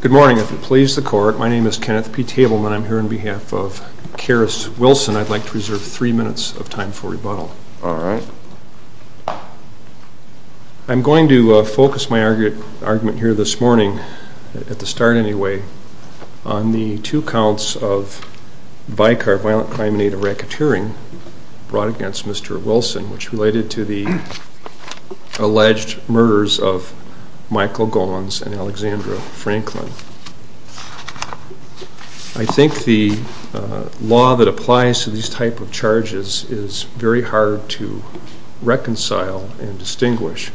Good morning, if it pleases the court, my name is Kenneth P. Wilson, I'd like to reserve three minutes of time for rebuttal. I'm going to focus my argument here this morning, at the start anyway, on the two counts of vicar, violent crime, and aid of racketeering brought against Mr. Wilson, which related to the alleged murders of Michael Gollins and Alexandra Franklin. I think the law that applies to these type of charges is very hard to reconcile and distinguish.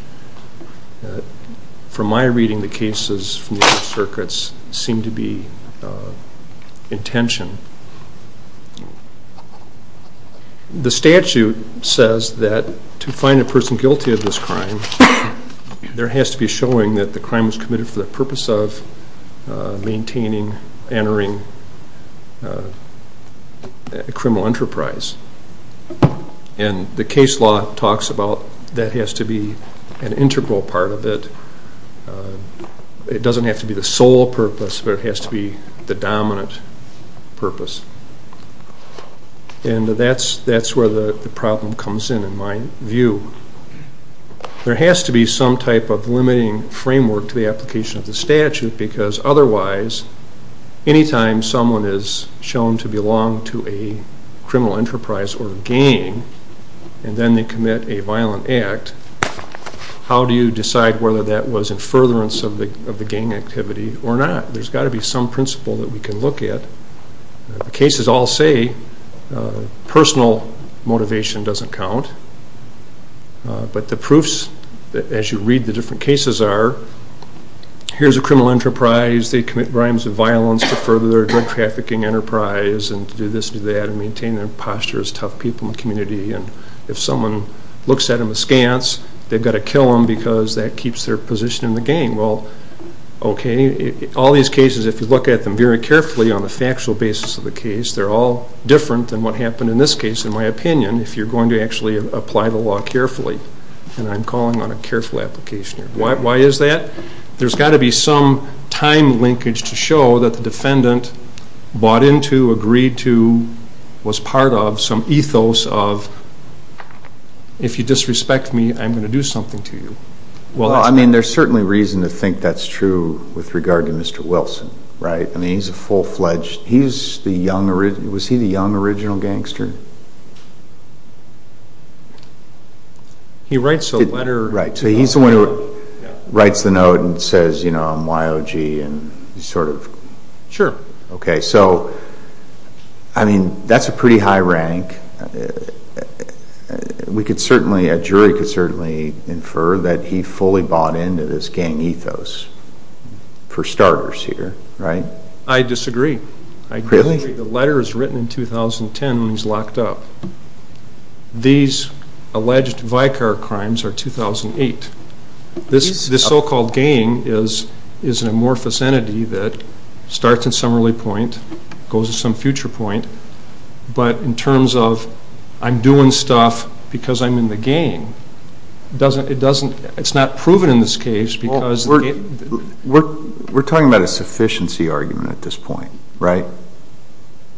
From my reading, the cases from the other circuits seem to be in tension. The statute says that to find a person guilty of this crime, there has to be showing that the crime was committed for the purpose of maintaining, entering a criminal enterprise. And the case law talks about that has to be an integral part of it. It doesn't have to be the sole purpose, but it has to be the dominant purpose. And that's where the problem comes in, in my view. There has to be some type of limiting framework to the application of the statute, because otherwise, any time someone is shown to belong to a criminal enterprise or gang, and then they commit a violent act, how do you decide whether that was in furtherance of the gang activity or not? There's got to be some principle that we can look at. The cases all say personal motivation doesn't count, but the proofs, as you read the different cases, are here's a criminal enterprise, they commit crimes of violence to further their drug trafficking enterprise, and to do this, do that, and maintain their posture as tough people in the community. And if someone looks at them askance, they've got to kill them because that keeps their position in the gang. Well, okay, all these cases, if you look at them very carefully on the factual basis of the case, they're all different than what happened in this case, in my opinion, if you're going to actually apply the law carefully. And I'm calling on a careful application here. Why is that? There's got to be some time linkage to show that the defendant bought into, agreed to, was part of some ethos of if you disrespect me, I'm going to do something to you. Well, I mean, there's certainly reason to think that's true with regard to Mr. Wilson, right? I mean, he's a full-fledged, he's the young, was he the young original gangster? He writes a letter. Right, so he's the one who writes the note and says, you know, I'm Y.O.G. and sort of. Sure. Okay, so, I mean, that's a pretty high rank. We could certainly, a jury could certainly infer that he fully bought into this gang ethos, for starters here, right? I disagree. Really? The letter was written in 2010 when he was locked up. These alleged Vicar crimes are 2008. This so-called gang is an amorphous entity that starts at some early point, goes to some future point, but in terms of I'm doing stuff because I'm in the gang, it's not proven in this case because. We're talking about a sufficiency argument at this point, right?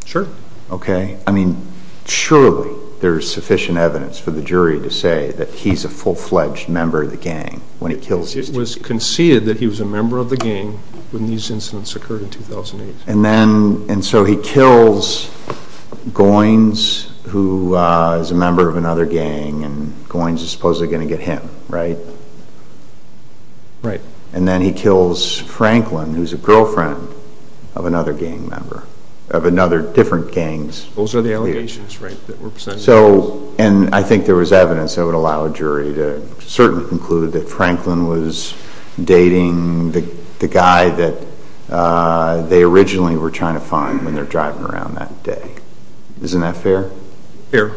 Sure. Okay, I mean, surely there's sufficient evidence for the jury to say that he's a full-fledged member of the gang when he kills these people. It was conceded that he was a member of the gang when these incidents occurred in 2008. And then, and so he kills Goins, who is a member of another gang, and Goins is supposedly going to get him, right? Right. And then he kills Franklin, who's a girlfriend of another gang member, of another, different gangs. Those are the allegations, right, that were presented? So, and I think there was evidence that would allow a jury to certainly conclude that Franklin was dating the guy that they originally were trying to find when they're driving around that day. Isn't that fair? Fair.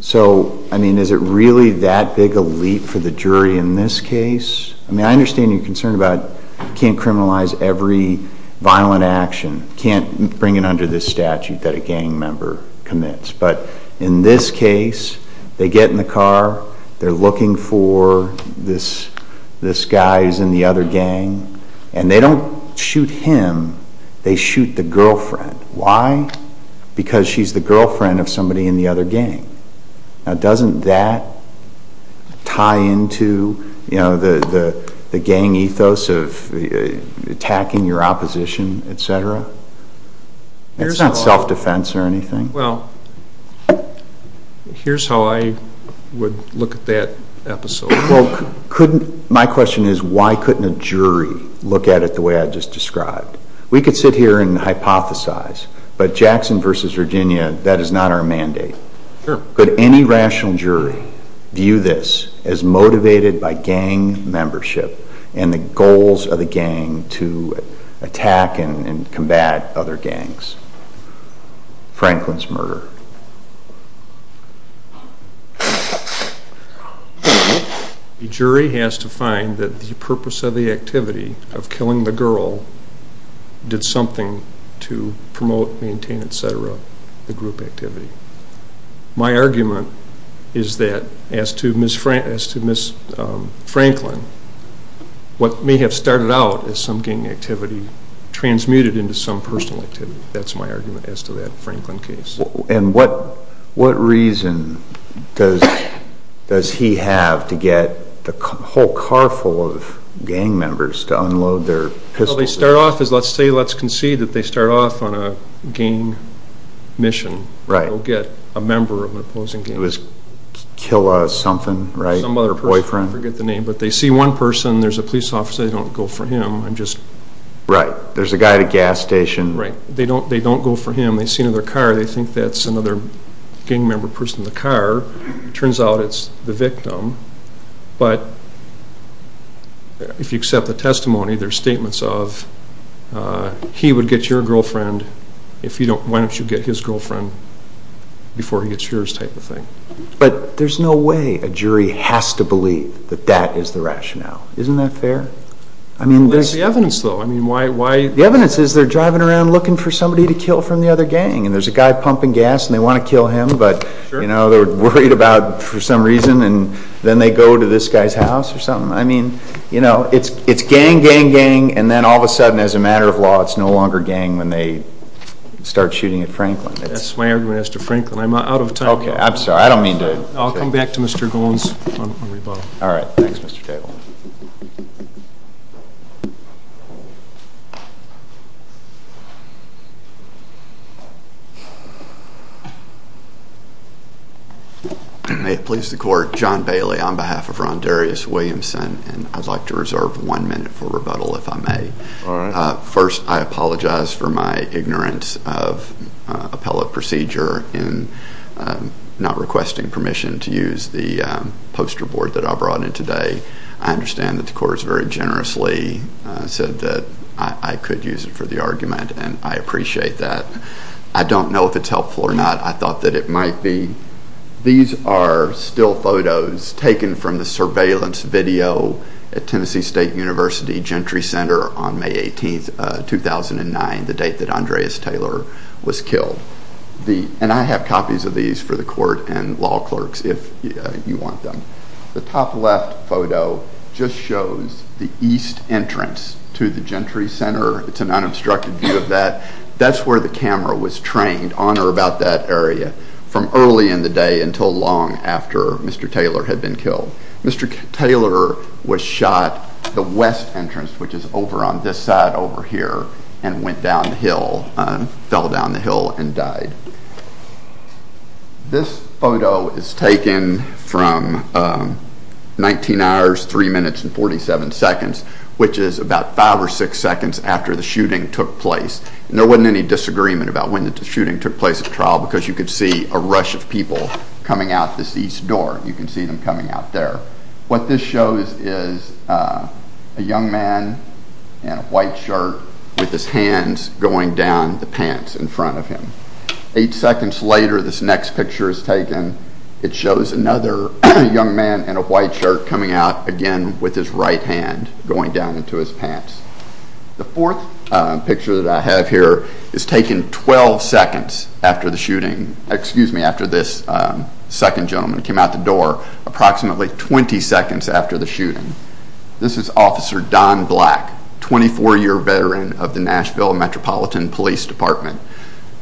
So, I mean, is it really that big a leap for the jury in this case? I mean, I understand your concern about can't criminalize every violent action, can't bring it under this statute that a gang member commits. But in this case, they get in the car, they're looking for this guy who's in the other gang, and they don't shoot him, they shoot the girlfriend. Why? Because she's the girlfriend of somebody in the other gang. Now, doesn't that tie into, you know, the gang ethos of attacking your opposition, et cetera? It's not self-defense or anything. Well, here's how I would look at that episode. Well, couldn't, my question is why couldn't a jury look at it the way I just described? We could sit here and hypothesize, but Jackson versus Virginia, that is not our mandate. Sure. Could any rational jury view this as motivated by gang membership and the goals of the gang to attack and combat other gangs? Franklin's murder. The jury has to find that the purpose of the activity of killing the girl did something to promote, maintain, et cetera, the group activity. My argument is that as to Ms. Franklin, what may have started out as some gang activity transmuted into some personal activity. That's my argument as to that Franklin case. And what reason does he have to get the whole car full of gang members to unload their pistols? Well, they start off as, let's say, let's concede that they start off on a gang mission. Right. They'll get a member of an opposing gang. It was Killa something, right? Some other person. Her boyfriend. I forget the name, but they see one person, there's a police officer, they don't go for him. Right. There's a guy at a gas station. Right. They don't go for him. They see another car. They think that's another gang member person in the car. Turns out it's the victim. But if you accept the testimony, there's statements of, he would get your girlfriend if you don't, why don't you get his girlfriend before he gets yours type of thing. But there's no way a jury has to believe that that is the rationale. Isn't that fair? I mean, there's... What is the evidence, though? I mean, why... The evidence is they're driving around looking for somebody to kill from the other gang. And there's a guy pumping gas and they want to kill him, but, you know, they're worried about, for some reason, and then they go to this guy's house or something. I mean, you know, it's gang, gang, gang, and then all of a sudden, as a matter of law, it's no longer gang when they start shooting at Franklin. That's my argument as to Franklin. I'm out of time. Okay. I'm sorry. I don't mean to... I'll come back to Mr. Goins on rebuttal. All right. Thanks, Mr. Table. May it please the court, John Bailey on behalf of Ron Darius Williamson, and I'd like to reserve one minute for rebuttal, if I may. All right. First, I apologize for my ignorance of appellate procedure in not requesting permission to use the poster board that I brought in today. I understand that the court has very generously said that I could use it for the argument, and I appreciate that. I don't know if it's helpful or not. I thought that it might be. These are still photos taken from the surveillance video at Tennessee State University Gentry Center on May 18, 2009, the date that Andreas Taylor was killed. And I have copies of these for the court and law clerks, if you want them. The top left photo just shows the east entrance to the Gentry Center. It's an unobstructed view of that. That's where the camera was trained on or about that area from early in the day until long after Mr. Taylor had been killed. Mr. Taylor was shot at the west entrance, which is over on this side over here, and went down the hill, fell down the hill, and died. This photo is taken from 19 hours, 3 minutes, and 47 seconds, which is about 5 or 6 seconds after the shooting took place. And there wasn't any disagreement about when the shooting took place at trial because you could see a rush of people coming out this east door. You can see them coming out there. What this shows is a young man in a white shirt with his hands going down the pants in front of him. Eight seconds later, this next picture is taken. It shows another young man in a white shirt coming out again with his right hand going down into his pants. The fourth picture that I have here is taken 12 seconds after the shooting, excuse me, after this second gentleman came out the door. Approximately 20 seconds after the shooting. This is Officer Don Black, 24-year veteran of the Nashville Metropolitan Police Department.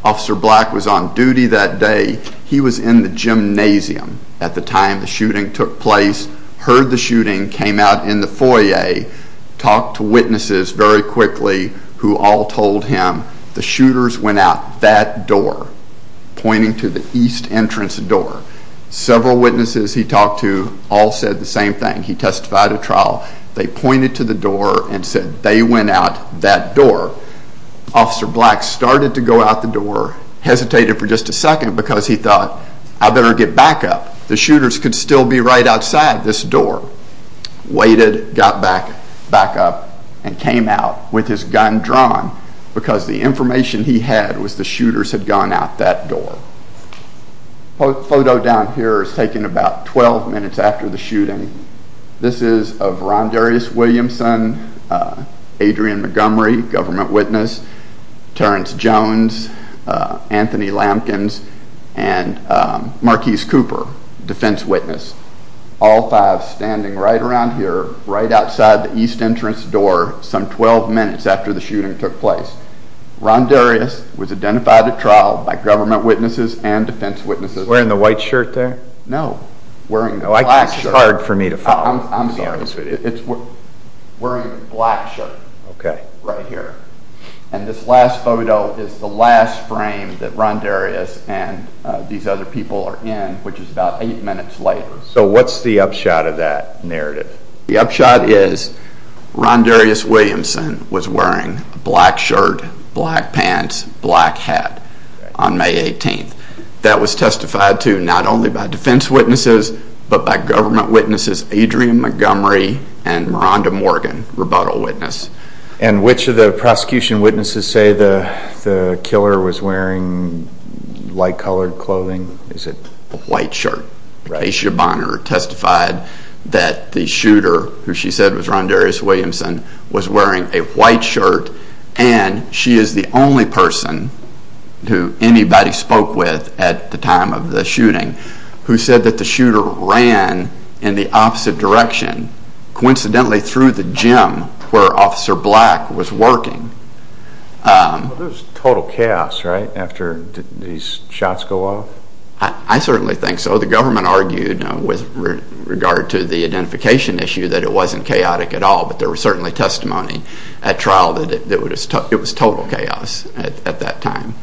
Officer Black was on duty that day. He was in the gymnasium at the time the shooting took place, heard the shooting, came out in the foyer, talked to witnesses very quickly who all told him the shooters went out that door, pointing to the east entrance door. Several witnesses he talked to all said the same thing. He testified at trial. They pointed to the door and said they went out that door. Officer Black started to go out the door, hesitated for just a second because he thought, I better get back up. The shooters could still be right outside this door. Waited, got back up, and came out with his gun drawn because the information he had was the shooters had gone out that door. The photo down here is taken about 12 minutes after the shooting. This is of Ron Darius Williamson, Adrian Montgomery, government witness, Terrence Jones, Anthony Lampkins, and Marquis Cooper, defense witness. All five standing right around here, right outside the east entrance door some 12 minutes after the shooting took place. Ron Darius was identified at trial by government witnesses and defense witnesses. Wearing the white shirt there? No, wearing the black shirt. It's hard for me to follow. It's wearing the black shirt right here. And this last photo is the last frame that Ron Darius and these other people are in, which is about 8 minutes later. So what's the upshot of that narrative? The upshot is Ron Darius Williamson was wearing a black shirt, black pants, black hat on May 18th. That was testified to not only by defense witnesses, but by government witnesses, Adrian Montgomery and Miranda Morgan, rebuttal witness. And which of the prosecution witnesses say the killer was wearing light colored clothing? The white shirt. Aisha Bonner testified that the shooter, who she said was Ron Darius Williamson, was wearing a white shirt. And she is the only person who anybody spoke with at the time of the shooting who said that the shooter ran in the opposite direction. Coincidentally through the gym where Officer Black was working. There was total chaos, right, after these shots go off? I certainly think so. The government argued with regard to the identification issue that it wasn't chaotic at all. But there was certainly testimony at trial that it was total chaos at that time.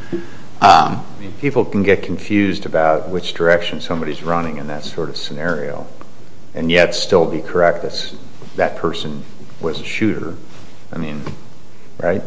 People can get confused about which direction somebody is running in that sort of scenario. And yet still be correct that that person was a shooter. I mean, right?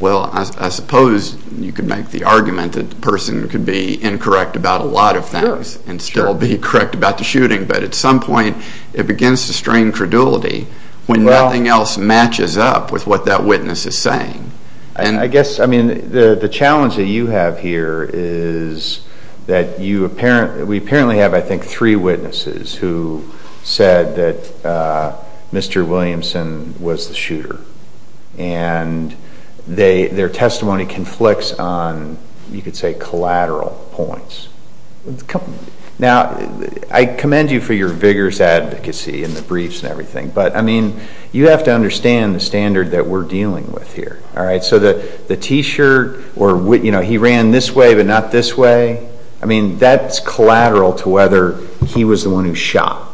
Well, I suppose you could make the argument that the person could be incorrect about a lot of things and still be correct about the shooting. But at some point it begins to strain credulity when nothing else matches up with what that witness is saying. I guess, I mean, the challenge that you have here is that we apparently have, I think, three witnesses who said that Mr. Williamson was the shooter. And their testimony conflicts on, you could say, collateral points. Now, I commend you for your vigorous advocacy in the briefs and everything. But, I mean, you have to understand the standard that we're dealing with here, all right? So the T-shirt or, you know, he ran this way but not this way. I mean, that's collateral to whether he was the one who shot.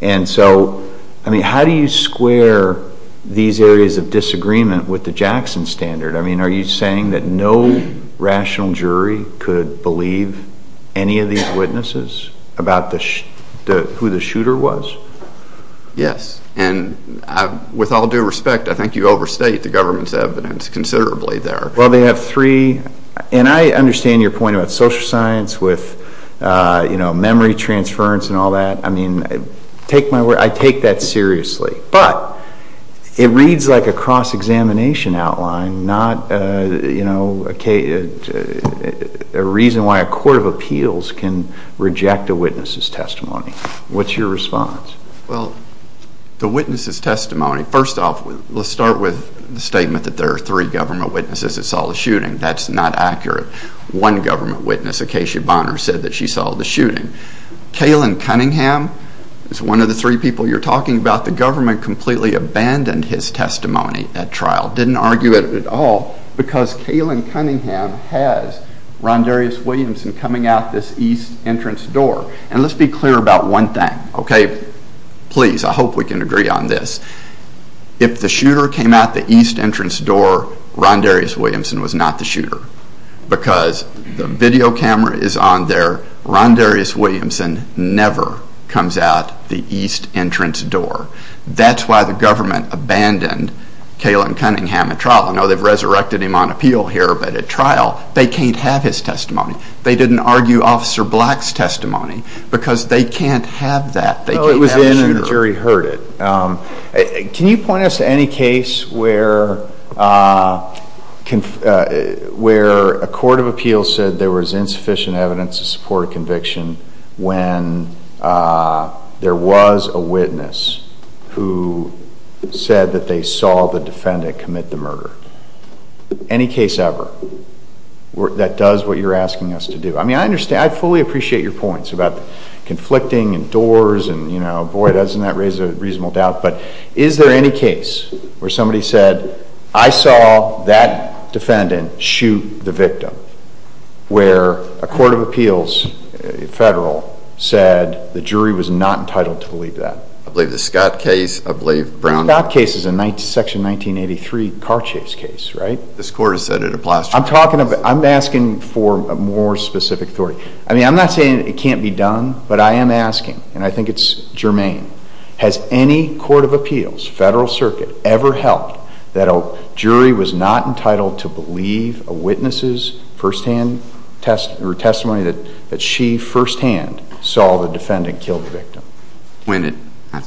And so, I mean, how do you square these areas of disagreement with the Jackson standard? I mean, are you saying that no rational jury could believe any of these witnesses about who the shooter was? Yes. And with all due respect, I think you overstate the government's evidence considerably there. Well, they have three. And I understand your point about social science with, you know, memory transference and all that. I mean, take my word, I take that seriously. But it reads like a cross-examination outline, not, you know, a reason why a court of appeals can reject a witness's testimony. What's your response? Well, the witness's testimony, first off, let's start with the statement that there are three government witnesses that saw the shooting. That's not accurate. One government witness, Acacia Bonner, said that she saw the shooting. Kaylin Cunningham is one of the three people you're talking about. The government completely abandoned his testimony at trial, didn't argue it at all, because Kaylin Cunningham has Ron Darius Williamson coming out this east entrance door. And let's be clear about one thing, okay? Please, I hope we can agree on this. If the shooter came out the east entrance door, Ron Darius Williamson was not the shooter. Because the video camera is on there. Ron Darius Williamson never comes out the east entrance door. That's why the government abandoned Kaylin Cunningham at trial. I know they've resurrected him on appeal here, but at trial, they can't have his testimony. They didn't argue Officer Black's testimony, because they can't have that. No, it was in and the jury heard it. Can you point us to any case where a court of appeals said there was insufficient evidence to support a conviction when there was a witness who said that they saw the defendant commit the murder? Any case ever that does what you're asking us to do. I mean, I fully appreciate your points about conflicting and doors and, you know, boy, doesn't that raise a reasonable doubt. But is there any case where somebody said, I saw that defendant shoot the victim, where a court of appeals, federal, said the jury was not entitled to believe that? I believe the Scott case. I believe Brown. The Scott case is a section 1983 car chase case, right? This court has said it applies. I'm talking about, I'm asking for a more specific story. I mean, I'm not saying it can't be done, but I am asking, and I think it's germane. Has any court of appeals, federal circuit, ever helped that a jury was not entitled to believe a witness's firsthand testimony that she firsthand saw the defendant kill the victim?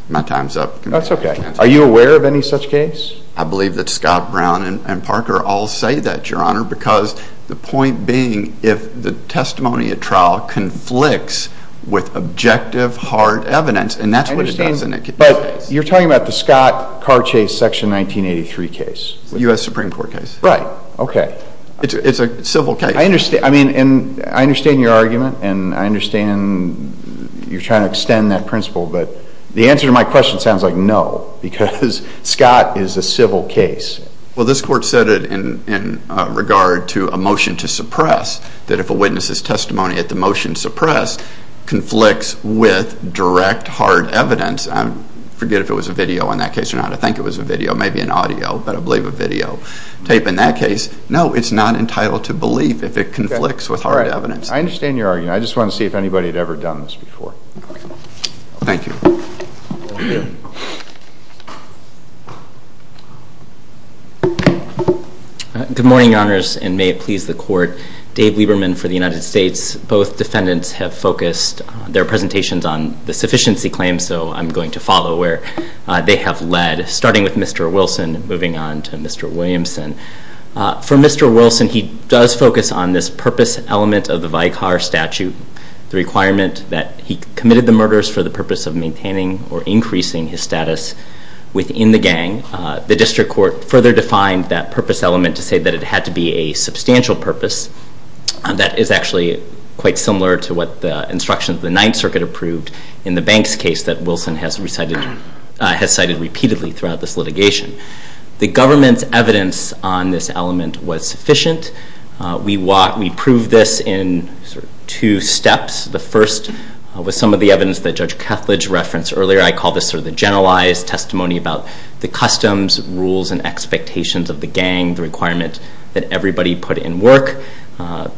My time's up. That's okay. Are you aware of any such case? I believe that Scott, Brown, and Parker all say that, Your Honor, because the point being if the testimony at trial conflicts with objective hard evidence, and that's what it does in that case. But you're talking about the Scott car chase section 1983 case. U.S. Supreme Court case. Right. Okay. It's a civil case. I understand. I mean, and I understand your argument, and I understand you're trying to extend that principle, but the answer to my question sounds like no, because Scott is a civil case. Well, this court said it in regard to a motion to suppress, that if a witness's testimony at the motion to suppress conflicts with direct hard evidence, I forget if it was a video in that case or not. I think it was a video, maybe an audio, but I believe a video tape. In that case, no, it's not entitled to belief if it conflicts with hard evidence. I understand your argument. I just wanted to see if anybody had ever done this before. Thank you. Good morning, Your Honors, and may it please the Court. Dave Lieberman for the United States. Both defendants have focused their presentations on the sufficiency claims, so I'm going to follow where they have led, starting with Mr. Wilson and moving on to Mr. Williamson. For Mr. Wilson, he does focus on this purpose element of the Vicar Statute, the requirement that he committed the murders for the purpose of maintaining or increasing his status within the gang. The district court further defined that purpose element to say that it had to be a substantial purpose. That is actually quite similar to what the instructions of the Ninth Circuit approved in the Banks case that Wilson has cited repeatedly throughout this litigation. The government's evidence on this element was sufficient. We proved this in two steps. The first was some of the evidence that Judge Kethledge referenced earlier. I call this the generalized testimony about the customs, rules, and expectations of the gang, the requirement that everybody put in work,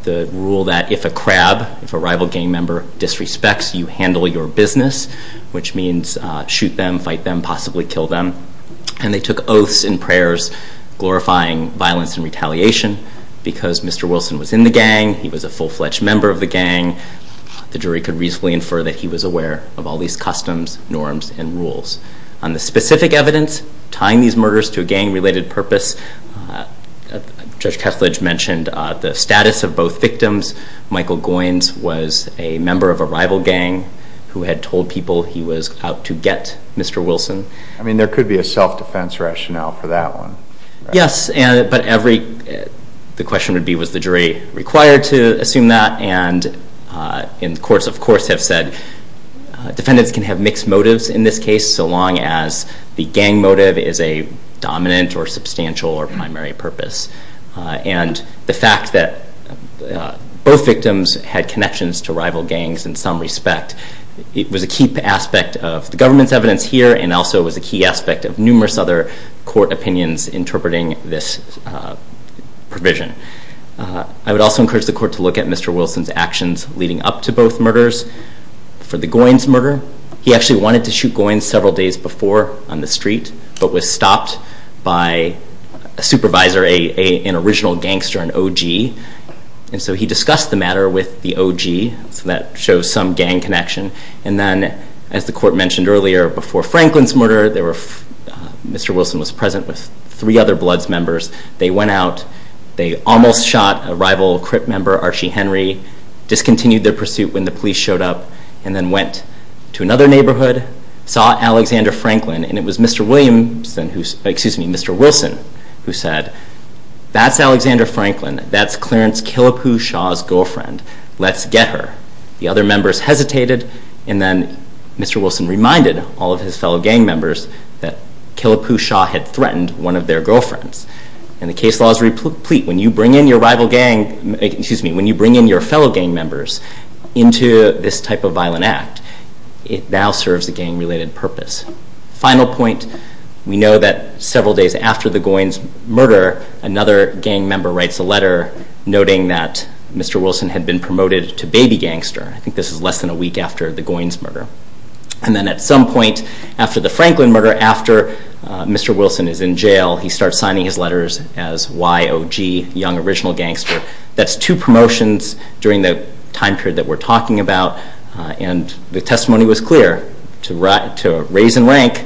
the rule that if a crab, if a rival gang member disrespects, you handle your business, which means shoot them, fight them, possibly kill them. And they took oaths and prayers glorifying violence and retaliation. Because Mr. Wilson was in the gang, he was a full-fledged member of the gang, the jury could reasonably infer that he was aware of all these customs, norms, and rules. On the specific evidence tying these murders to a gang-related purpose, Judge Kethledge mentioned the status of both victims. Michael Goines was a member of a rival gang who had told people he was out to get Mr. Wilson. I mean, there could be a self-defense rationale for that one. Yes, but the question would be was the jury required to assume that? And courts, of course, have said defendants can have mixed motives in this case so long as the gang motive is a dominant or substantial or primary purpose. And the fact that both victims had connections to rival gangs in some respect, it was a key aspect of the government's evidence here and also was a key aspect of numerous other court opinions interpreting this provision. I would also encourage the court to look at Mr. Wilson's actions leading up to both murders. For the Goines murder, he actually wanted to shoot Goines several days before on the street but was stopped by a supervisor, an original gangster, an OG. And so he discussed the matter with the OG, so that shows some gang connection. And then, as the court mentioned earlier, before Franklin's murder, Mr. Wilson was present with three other Bloods members. They went out, they almost shot a rival Crip member, Archie Henry, discontinued their pursuit when the police showed up, and then went to another neighborhood, saw Alexander Franklin, and it was Mr. Wilson who said, that's Alexander Franklin, that's Clarence Killapoo Shaw's girlfriend, let's get her. The other members hesitated, and then Mr. Wilson reminded all of his fellow gang members that Killapoo Shaw had threatened one of their girlfriends. And the case law is replete. When you bring in your fellow gang members into this type of violent act, it now serves a gang-related purpose. Final point, we know that several days after the Goins murder, another gang member writes a letter noting that Mr. Wilson had been promoted to baby gangster. I think this is less than a week after the Goins murder. And then at some point after the Franklin murder, after Mr. Wilson is in jail, he starts signing his letters as YOG, Young Original Gangster. That's two promotions during the time period that we're talking about, and the testimony was clear. To raise in rank,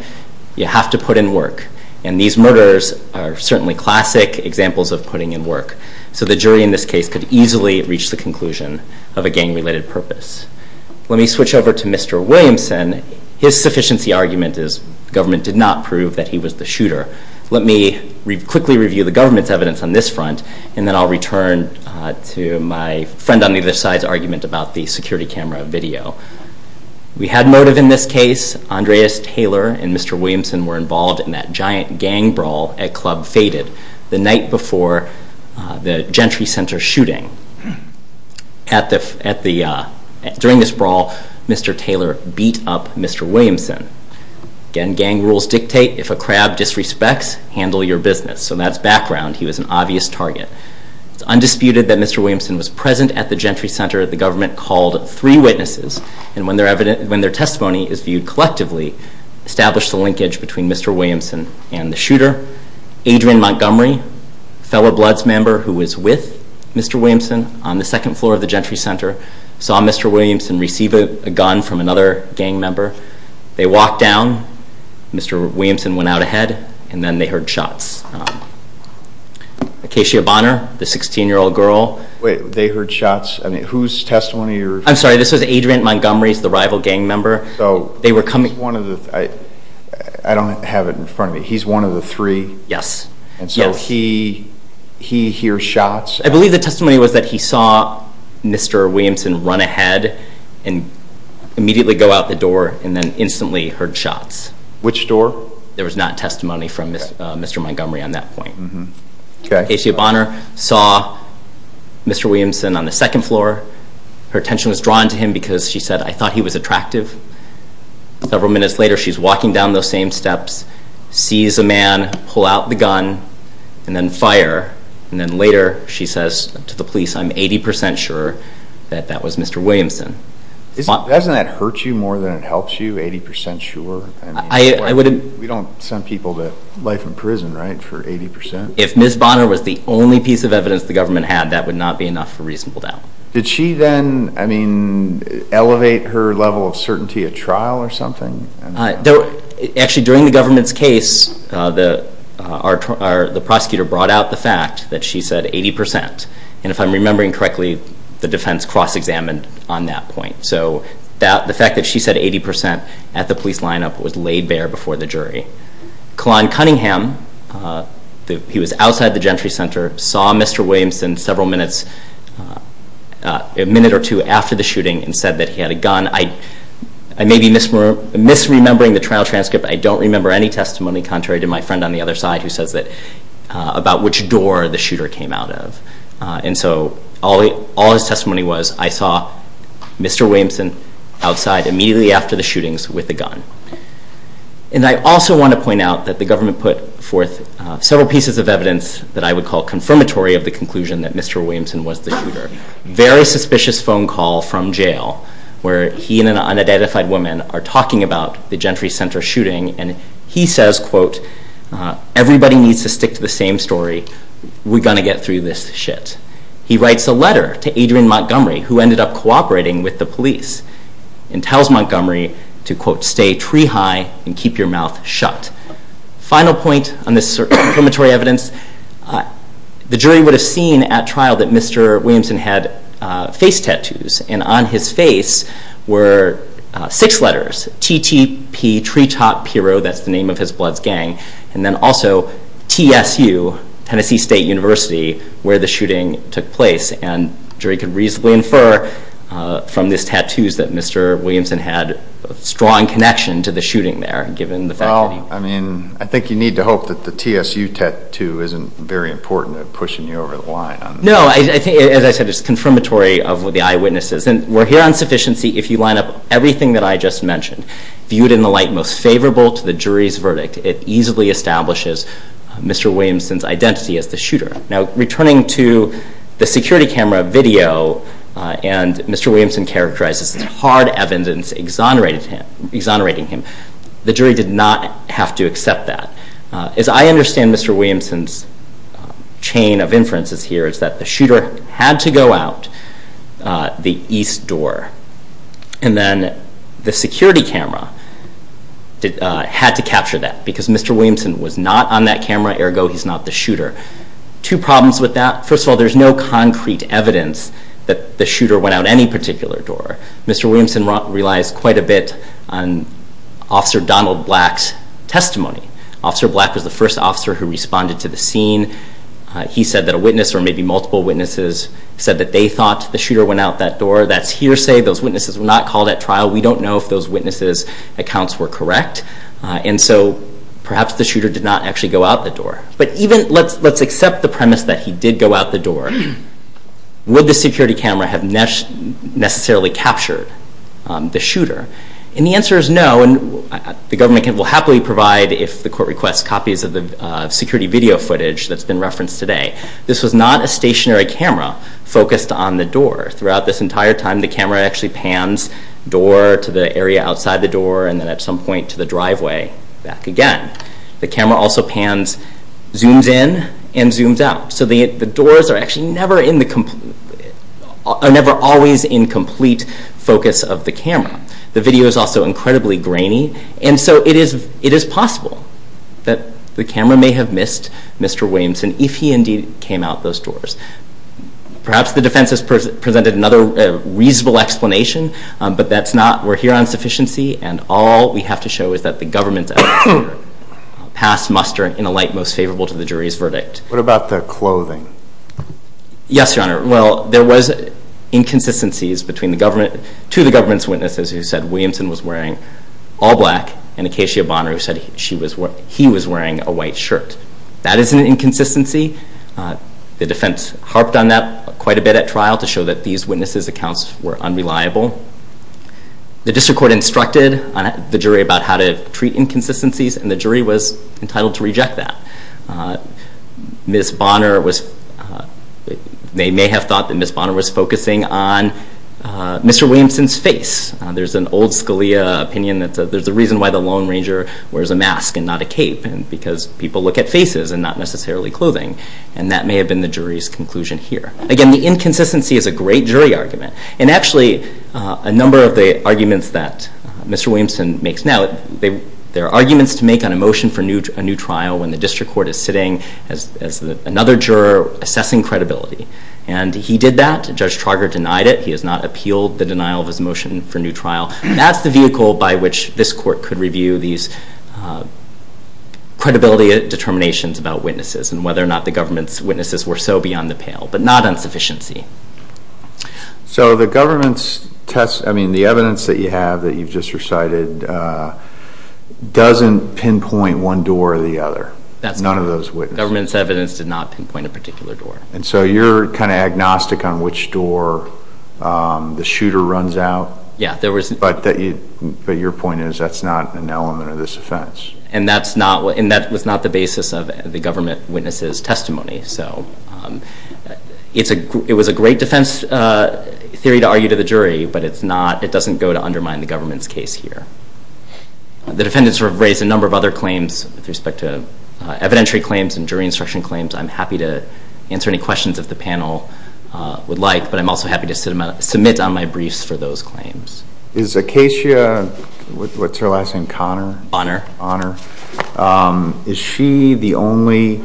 you have to put in work. And these murders are certainly classic examples of putting in work. So the jury in this case could easily reach the conclusion of a gang-related purpose. Let me switch over to Mr. Williamson. His sufficiency argument is the government did not prove that he was the shooter. Let me quickly review the government's evidence on this front, and then I'll return to my friend on the other side's argument about the security camera video. We had motive in this case. Andreas Taylor and Mr. Williamson were involved in that giant gang brawl at Club Faded the night before the Gentry Center shooting. During this brawl, Mr. Taylor beat up Mr. Williamson. Again, gang rules dictate if a crab disrespects, handle your business. So that's background. He was an obvious target. It's undisputed that Mr. Williamson was present at the Gentry Center. The government called three witnesses, and when their testimony is viewed collectively, established the linkage between Mr. Williamson and the shooter. Adrian Montgomery, fellow Bloods member who was with Mr. Williamson, on the second floor of the Gentry Center, saw Mr. Williamson receive a gun from another gang member. They walked down. Mr. Williamson went out ahead, and then they heard shots. Acacia Bonner, the 16-year-old girl. Wait, they heard shots? I mean, whose testimony are you referring to? I'm sorry, this was Adrian Montgomery's, the rival gang member. They were coming. I don't have it in front of me. He's one of the three? Yes. And so he hears shots? I believe the testimony was that he saw Mr. Williamson run ahead and immediately go out the door and then instantly heard shots. Which door? There was not testimony from Mr. Montgomery on that point. Acacia Bonner saw Mr. Williamson on the second floor. Her attention was drawn to him because she said, I thought he was attractive. Several minutes later, she's walking down those same steps, sees a man, pull out the gun, and then fire. And then later she says to the police, I'm 80% sure that that was Mr. Williamson. Doesn't that hurt you more than it helps you, 80% sure? We don't send people to life in prison, right, for 80%? If Ms. Bonner was the only piece of evidence the government had, that would not be enough for reasonable doubt. Did she then elevate her level of certainty at trial or something? Actually, during the government's case, the prosecutor brought out the fact that she said 80%. And if I'm remembering correctly, the defense cross-examined on that point. So the fact that she said 80% at the police lineup was laid bare before the jury. Kalon Cunningham, he was outside the Gentry Center, saw Mr. Williamson several minutes, a minute or two after the shooting, and said that he had a gun. I may be misremembering the trial transcript, but I don't remember any testimony contrary to my friend on the other side who says that about which door the shooter came out of. And so all his testimony was, I saw Mr. Williamson outside immediately after the shootings with a gun. And I also want to point out that the government put forth several pieces of evidence that I would call confirmatory of the conclusion that Mr. Williamson was the shooter. There was a very suspicious phone call from jail where he and an unidentified woman are talking about the Gentry Center shooting, and he says, quote, everybody needs to stick to the same story, we're going to get through this shit. He writes a letter to Adrian Montgomery, who ended up cooperating with the police, and tells Montgomery to, quote, stay tree high and keep your mouth shut. Final point on this confirmatory evidence, the jury would have seen at trial that Mr. Williamson had face tattoos, and on his face were six letters, TTP, Treetop Hero, that's the name of his Bloods gang, and then also TSU, Tennessee State University, where the shooting took place. And the jury could reasonably infer from these tattoos that Mr. Williamson had a strong connection to the shooting there, given the fact that he- This isn't very important, I'm pushing you over the line on this. No, I think, as I said, it's confirmatory of what the eyewitnesses, and we're here on sufficiency if you line up everything that I just mentioned. Viewed in the light most favorable to the jury's verdict, it easily establishes Mr. Williamson's identity as the shooter. Now, returning to the security camera video, and Mr. Williamson characterized as hard evidence exonerating him, the jury did not have to accept that. As I understand Mr. Williamson's chain of inferences here, it's that the shooter had to go out the east door, and then the security camera had to capture that, because Mr. Williamson was not on that camera, ergo he's not the shooter. Two problems with that, first of all, there's no concrete evidence that the shooter went out any particular door. Mr. Williamson relies quite a bit on Officer Donald Black's testimony. Officer Black was the first officer who responded to the scene. He said that a witness, or maybe multiple witnesses, said that they thought the shooter went out that door. That's hearsay. Those witnesses were not called at trial. We don't know if those witnesses' accounts were correct, and so perhaps the shooter did not actually go out the door. But even, let's accept the premise that he did go out the door. Would the security camera have necessarily captured the shooter? And the answer is no, and the government will happily provide if the court requests copies of the security video footage that's been referenced today. This was not a stationary camera focused on the door. Throughout this entire time, the camera actually pans door to the area outside the door, and then at some point to the driveway back again. The camera also zooms in and zooms out, so the doors are actually never always in complete focus of the camera. The video is also incredibly grainy, and so it is possible that the camera may have missed Mr. Williamson if he indeed came out those doors. Perhaps the defense has presented another reasonable explanation, but that's not. We're here on sufficiency, and all we have to show is that the government has passed muster in a light most favorable to the jury's verdict. What about the clothing? Yes, Your Honor. Well, there was inconsistencies to the government's witnesses who said Williamson was wearing all black, and Acacia Bonner who said he was wearing a white shirt. That is an inconsistency. The defense harped on that quite a bit at trial to show that these witnesses' accounts were unreliable. The district court instructed the jury about how to treat inconsistencies, and the jury was entitled to reject that. Ms. Bonner was, they may have thought that Ms. Bonner was focusing on Mr. Williamson's face. There's an old Scalia opinion that there's a reason why the Lone Ranger wears a mask and not a cape, because people look at faces and not necessarily clothing, and that may have been the jury's conclusion here. Again, the inconsistency is a great jury argument, and actually a number of the arguments that Mr. Williamson makes now, they're arguments to make on a motion for a new trial when the district court is sitting as another juror assessing credibility, and he did that. Judge Trauger denied it. He has not appealed the denial of his motion for a new trial. That's the vehicle by which this court could review these credibility determinations about witnesses and whether or not the government's witnesses were so beyond the pale, but not on sufficiency. So the government's test, I mean, the evidence that you have that you've just recited doesn't pinpoint one door or the other. None of those witnesses. The government's evidence did not pinpoint a particular door. And so you're kind of agnostic on which door the shooter runs out? Yeah. But your point is that's not an element of this offense. And that was not the basis of the government witness's testimony. So it was a great defense theory to argue to the jury, but it doesn't go to undermine the government's case here. The defendants have raised a number of other claims with respect to evidentiary claims and jury instruction claims. I'm happy to answer any questions if the panel would like, but I'm also happy to submit on my briefs for those claims. Is Acacia, what's her last name, Connor? Bonner. Bonner. Is she the only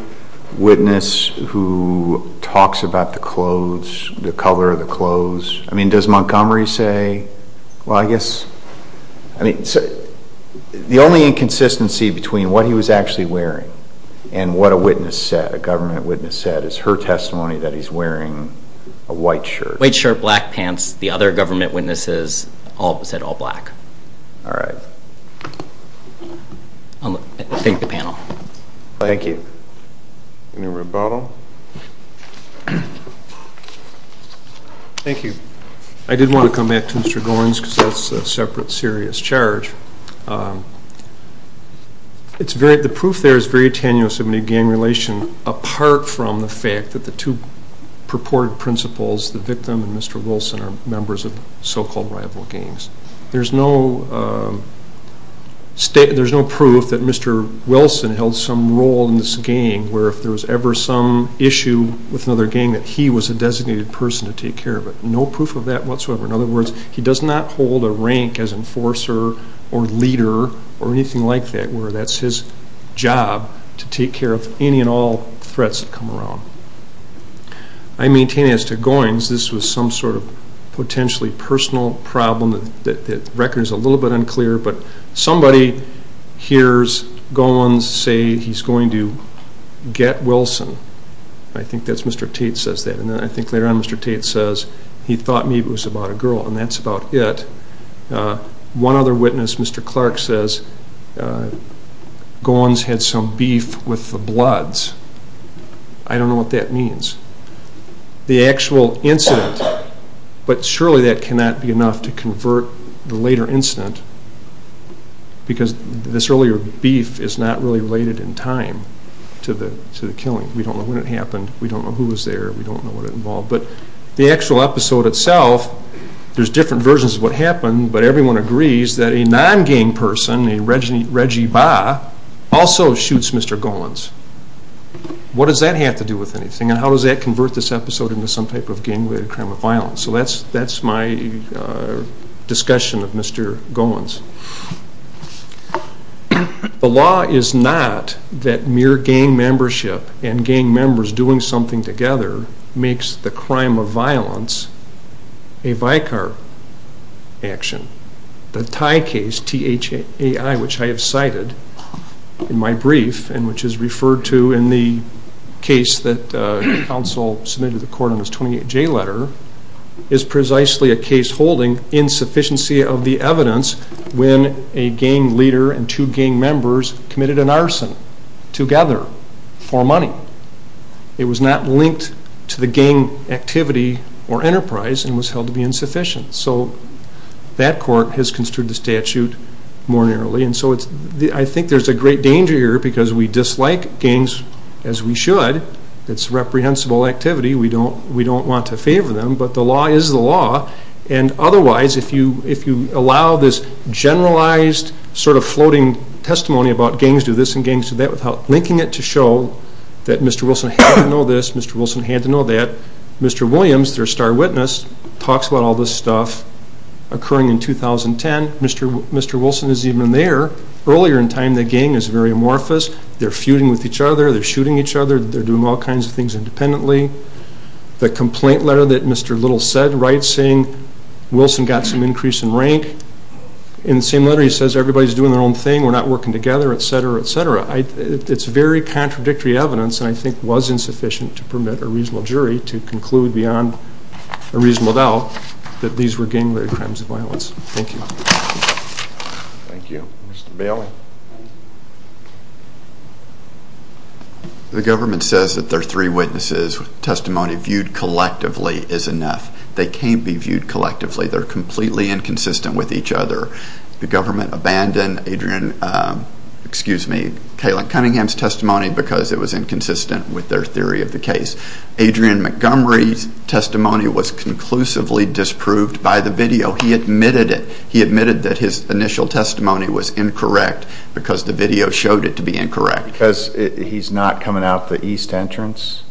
witness who talks about the clothes, the color of the clothes? I mean, does Montgomery say, well, I guess? I mean, the only inconsistency between what he was actually wearing and what a witness said, a government witness said, is her testimony that he's wearing a white shirt. White shirt, black pants. The other government witnesses said all black. All right. Thank the panel. Thank you. Any rebuttal? Thank you. I did want to come back to Mr. Goins because that's a separate serious charge. The proof there is very tenuous in a gang relation, apart from the fact that the two purported principals, the victim and Mr. Wilson, are members of so-called rival gangs. There's no proof that Mr. Wilson held some role in this gang where if there was ever some issue with another gang that he was a designated person to take care of it. No proof of that whatsoever. In other words, he does not hold a rank as enforcer or leader or anything like that where that's his job to take care of any and all threats that come around. I maintain as to Goins, this was some sort of potentially personal problem that the record is a little bit unclear, but somebody hears Goins say he's going to get Wilson. I think that's Mr. Tate says that. I think later on Mr. Tate says he thought maybe it was about a girl, and that's about it. One other witness, Mr. Clark, says Goins had some beef with the Bloods. I don't know what that means. The actual incident, but surely that cannot be enough to convert the later incident because this earlier beef is not really related in time to the killing. We don't know when it happened. We don't know who was there. We don't know what it involved. But the actual episode itself, there's different versions of what happened, but everyone agrees that a non-gang person, a Reggie Ba, also shoots Mr. Goins. What does that have to do with anything, and how does that convert this episode into some type of gang-related crime of violence? So that's my discussion of Mr. Goins. The law is not that mere gang membership and gang members doing something together makes the crime of violence a Vicar action. The Ty case, T-H-A-I, which I have cited in my brief and which is referred to in the case that counsel submitted to the court on his 28-J letter, is precisely a case holding insufficiency of the evidence when a gang leader and two gang members committed an arson together for money. It was not linked to the gang activity or enterprise and was held to be insufficient. So that court has construed the statute more narrowly, and so I think there's a great danger here because we dislike gangs as we should. It's reprehensible activity. We don't want to favor them, but the law is the law. Otherwise, if you allow this generalized sort of floating testimony about gangs do this and gangs do that without linking it to show that Mr. Wilson had to know this, Mr. Wilson had to know that, Mr. Williams, their star witness, talks about all this stuff occurring in 2010. Mr. Wilson is even there earlier in time. The gang is very amorphous. They're feuding with each other. They're shooting each other. They're doing all kinds of things independently. The complaint letter that Mr. Little said writes saying Wilson got some increase in rank. In the same letter he says everybody's doing their own thing. We're not working together, et cetera, et cetera. It's very contradictory evidence and I think was insufficient to permit a reasonable jury to conclude beyond a reasonable doubt that these were gang-related crimes of violence. Thank you. Thank you. Mr. Bailey. The government says that their three witnesses' testimony viewed collectively is enough. They can't be viewed collectively. They're completely inconsistent with each other. The government abandoned Adrian, excuse me, Caitlin Cunningham's testimony because it was inconsistent with their theory of the case. Adrian Montgomery's testimony was conclusively disproved by the video. He admitted it. He admitted that his initial testimony was incorrect because the video showed it to be incorrect. Because he's not coming out the east entrance?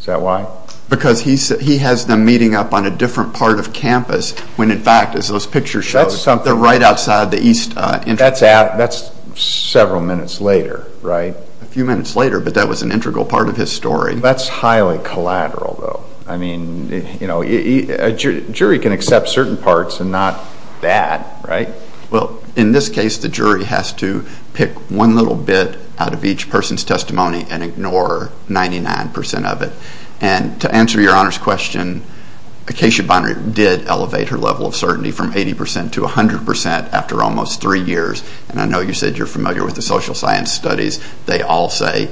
Is that why? Because he has them meeting up on a different part of campus when, in fact, as those pictures show, they're right outside the east entrance. That's several minutes later, right? A few minutes later, but that was an integral part of his story. That's highly collateral, though. I mean, you know, a jury can accept certain parts and not that, right? Well, in this case, the jury has to pick one little bit out of each person's testimony and ignore 99 percent of it. And to answer your Honor's question, Acacia Bonner did elevate her level of certainty from 80 percent to 100 percent after almost three years. And I know you said you're familiar with the social science studies. They all say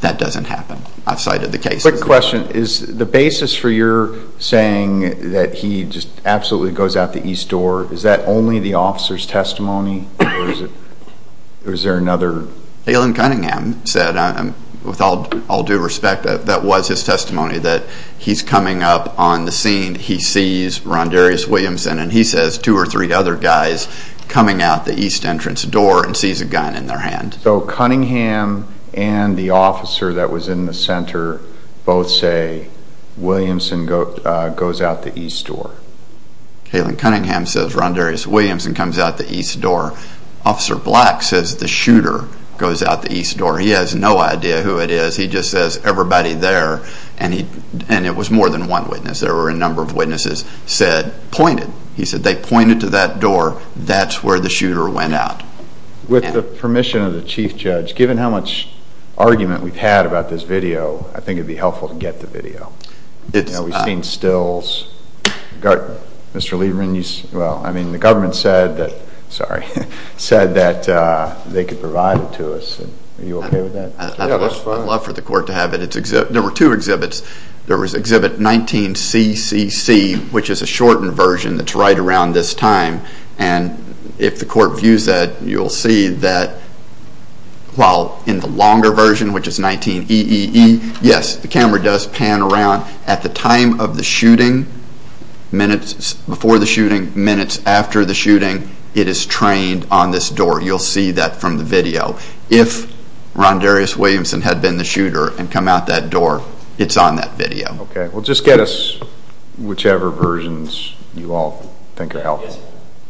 that doesn't happen outside of the cases. Quick question. Is the basis for your saying that he just absolutely goes out the east door, is that only the officer's testimony or is there another? Alan Cunningham said, with all due respect, that that was his testimony, that he's coming up on the scene, he sees Ron Darius Williamson, and he says two or three other guys coming out the east entrance door and sees a gun in their hand. So Cunningham and the officer that was in the center both say Williamson goes out the east door. Alan Cunningham says Ron Darius Williamson comes out the east door. Officer Black says the shooter goes out the east door. He has no idea who it is. He just says everybody there, and it was more than one witness. There were a number of witnesses said pointed. He said they pointed to that door. That's where the shooter went out. With the permission of the chief judge, given how much argument we've had about this video, I think it would be helpful to get the video. We've seen stills. Mr. Lieberman, the government said that they could provide it to us. Are you okay with that? I'd love for the court to have it. There were two exhibits. There was exhibit 19CCC, which is a shortened version that's right around this time, and if the court views that, you'll see that while in the longer version, which is 19EEE, yes, the camera does pan around. At the time of the shooting, minutes before the shooting, minutes after the shooting, it is trained on this door. You'll see that from the video. If Ron Darius Williamson had been the shooter and come out that door, it's on that video. Okay. Well, just get us whichever versions you all think are helpful. Yes.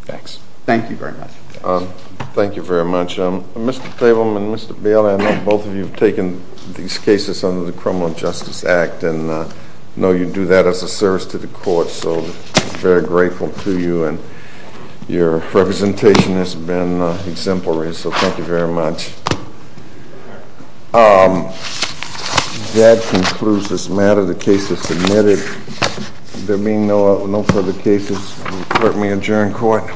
Thanks. Thank you very much. Thank you very much. Mr. Cleveland and Mr. Bailey, I know both of you have taken these cases under the Criminal Justice Act and know you do that as a service to the court, so we're very grateful to you, and your representation has been exemplary, so thank you very much. That concludes this matter. There are no further cases submitted. There being no further cases, the court may adjourn court.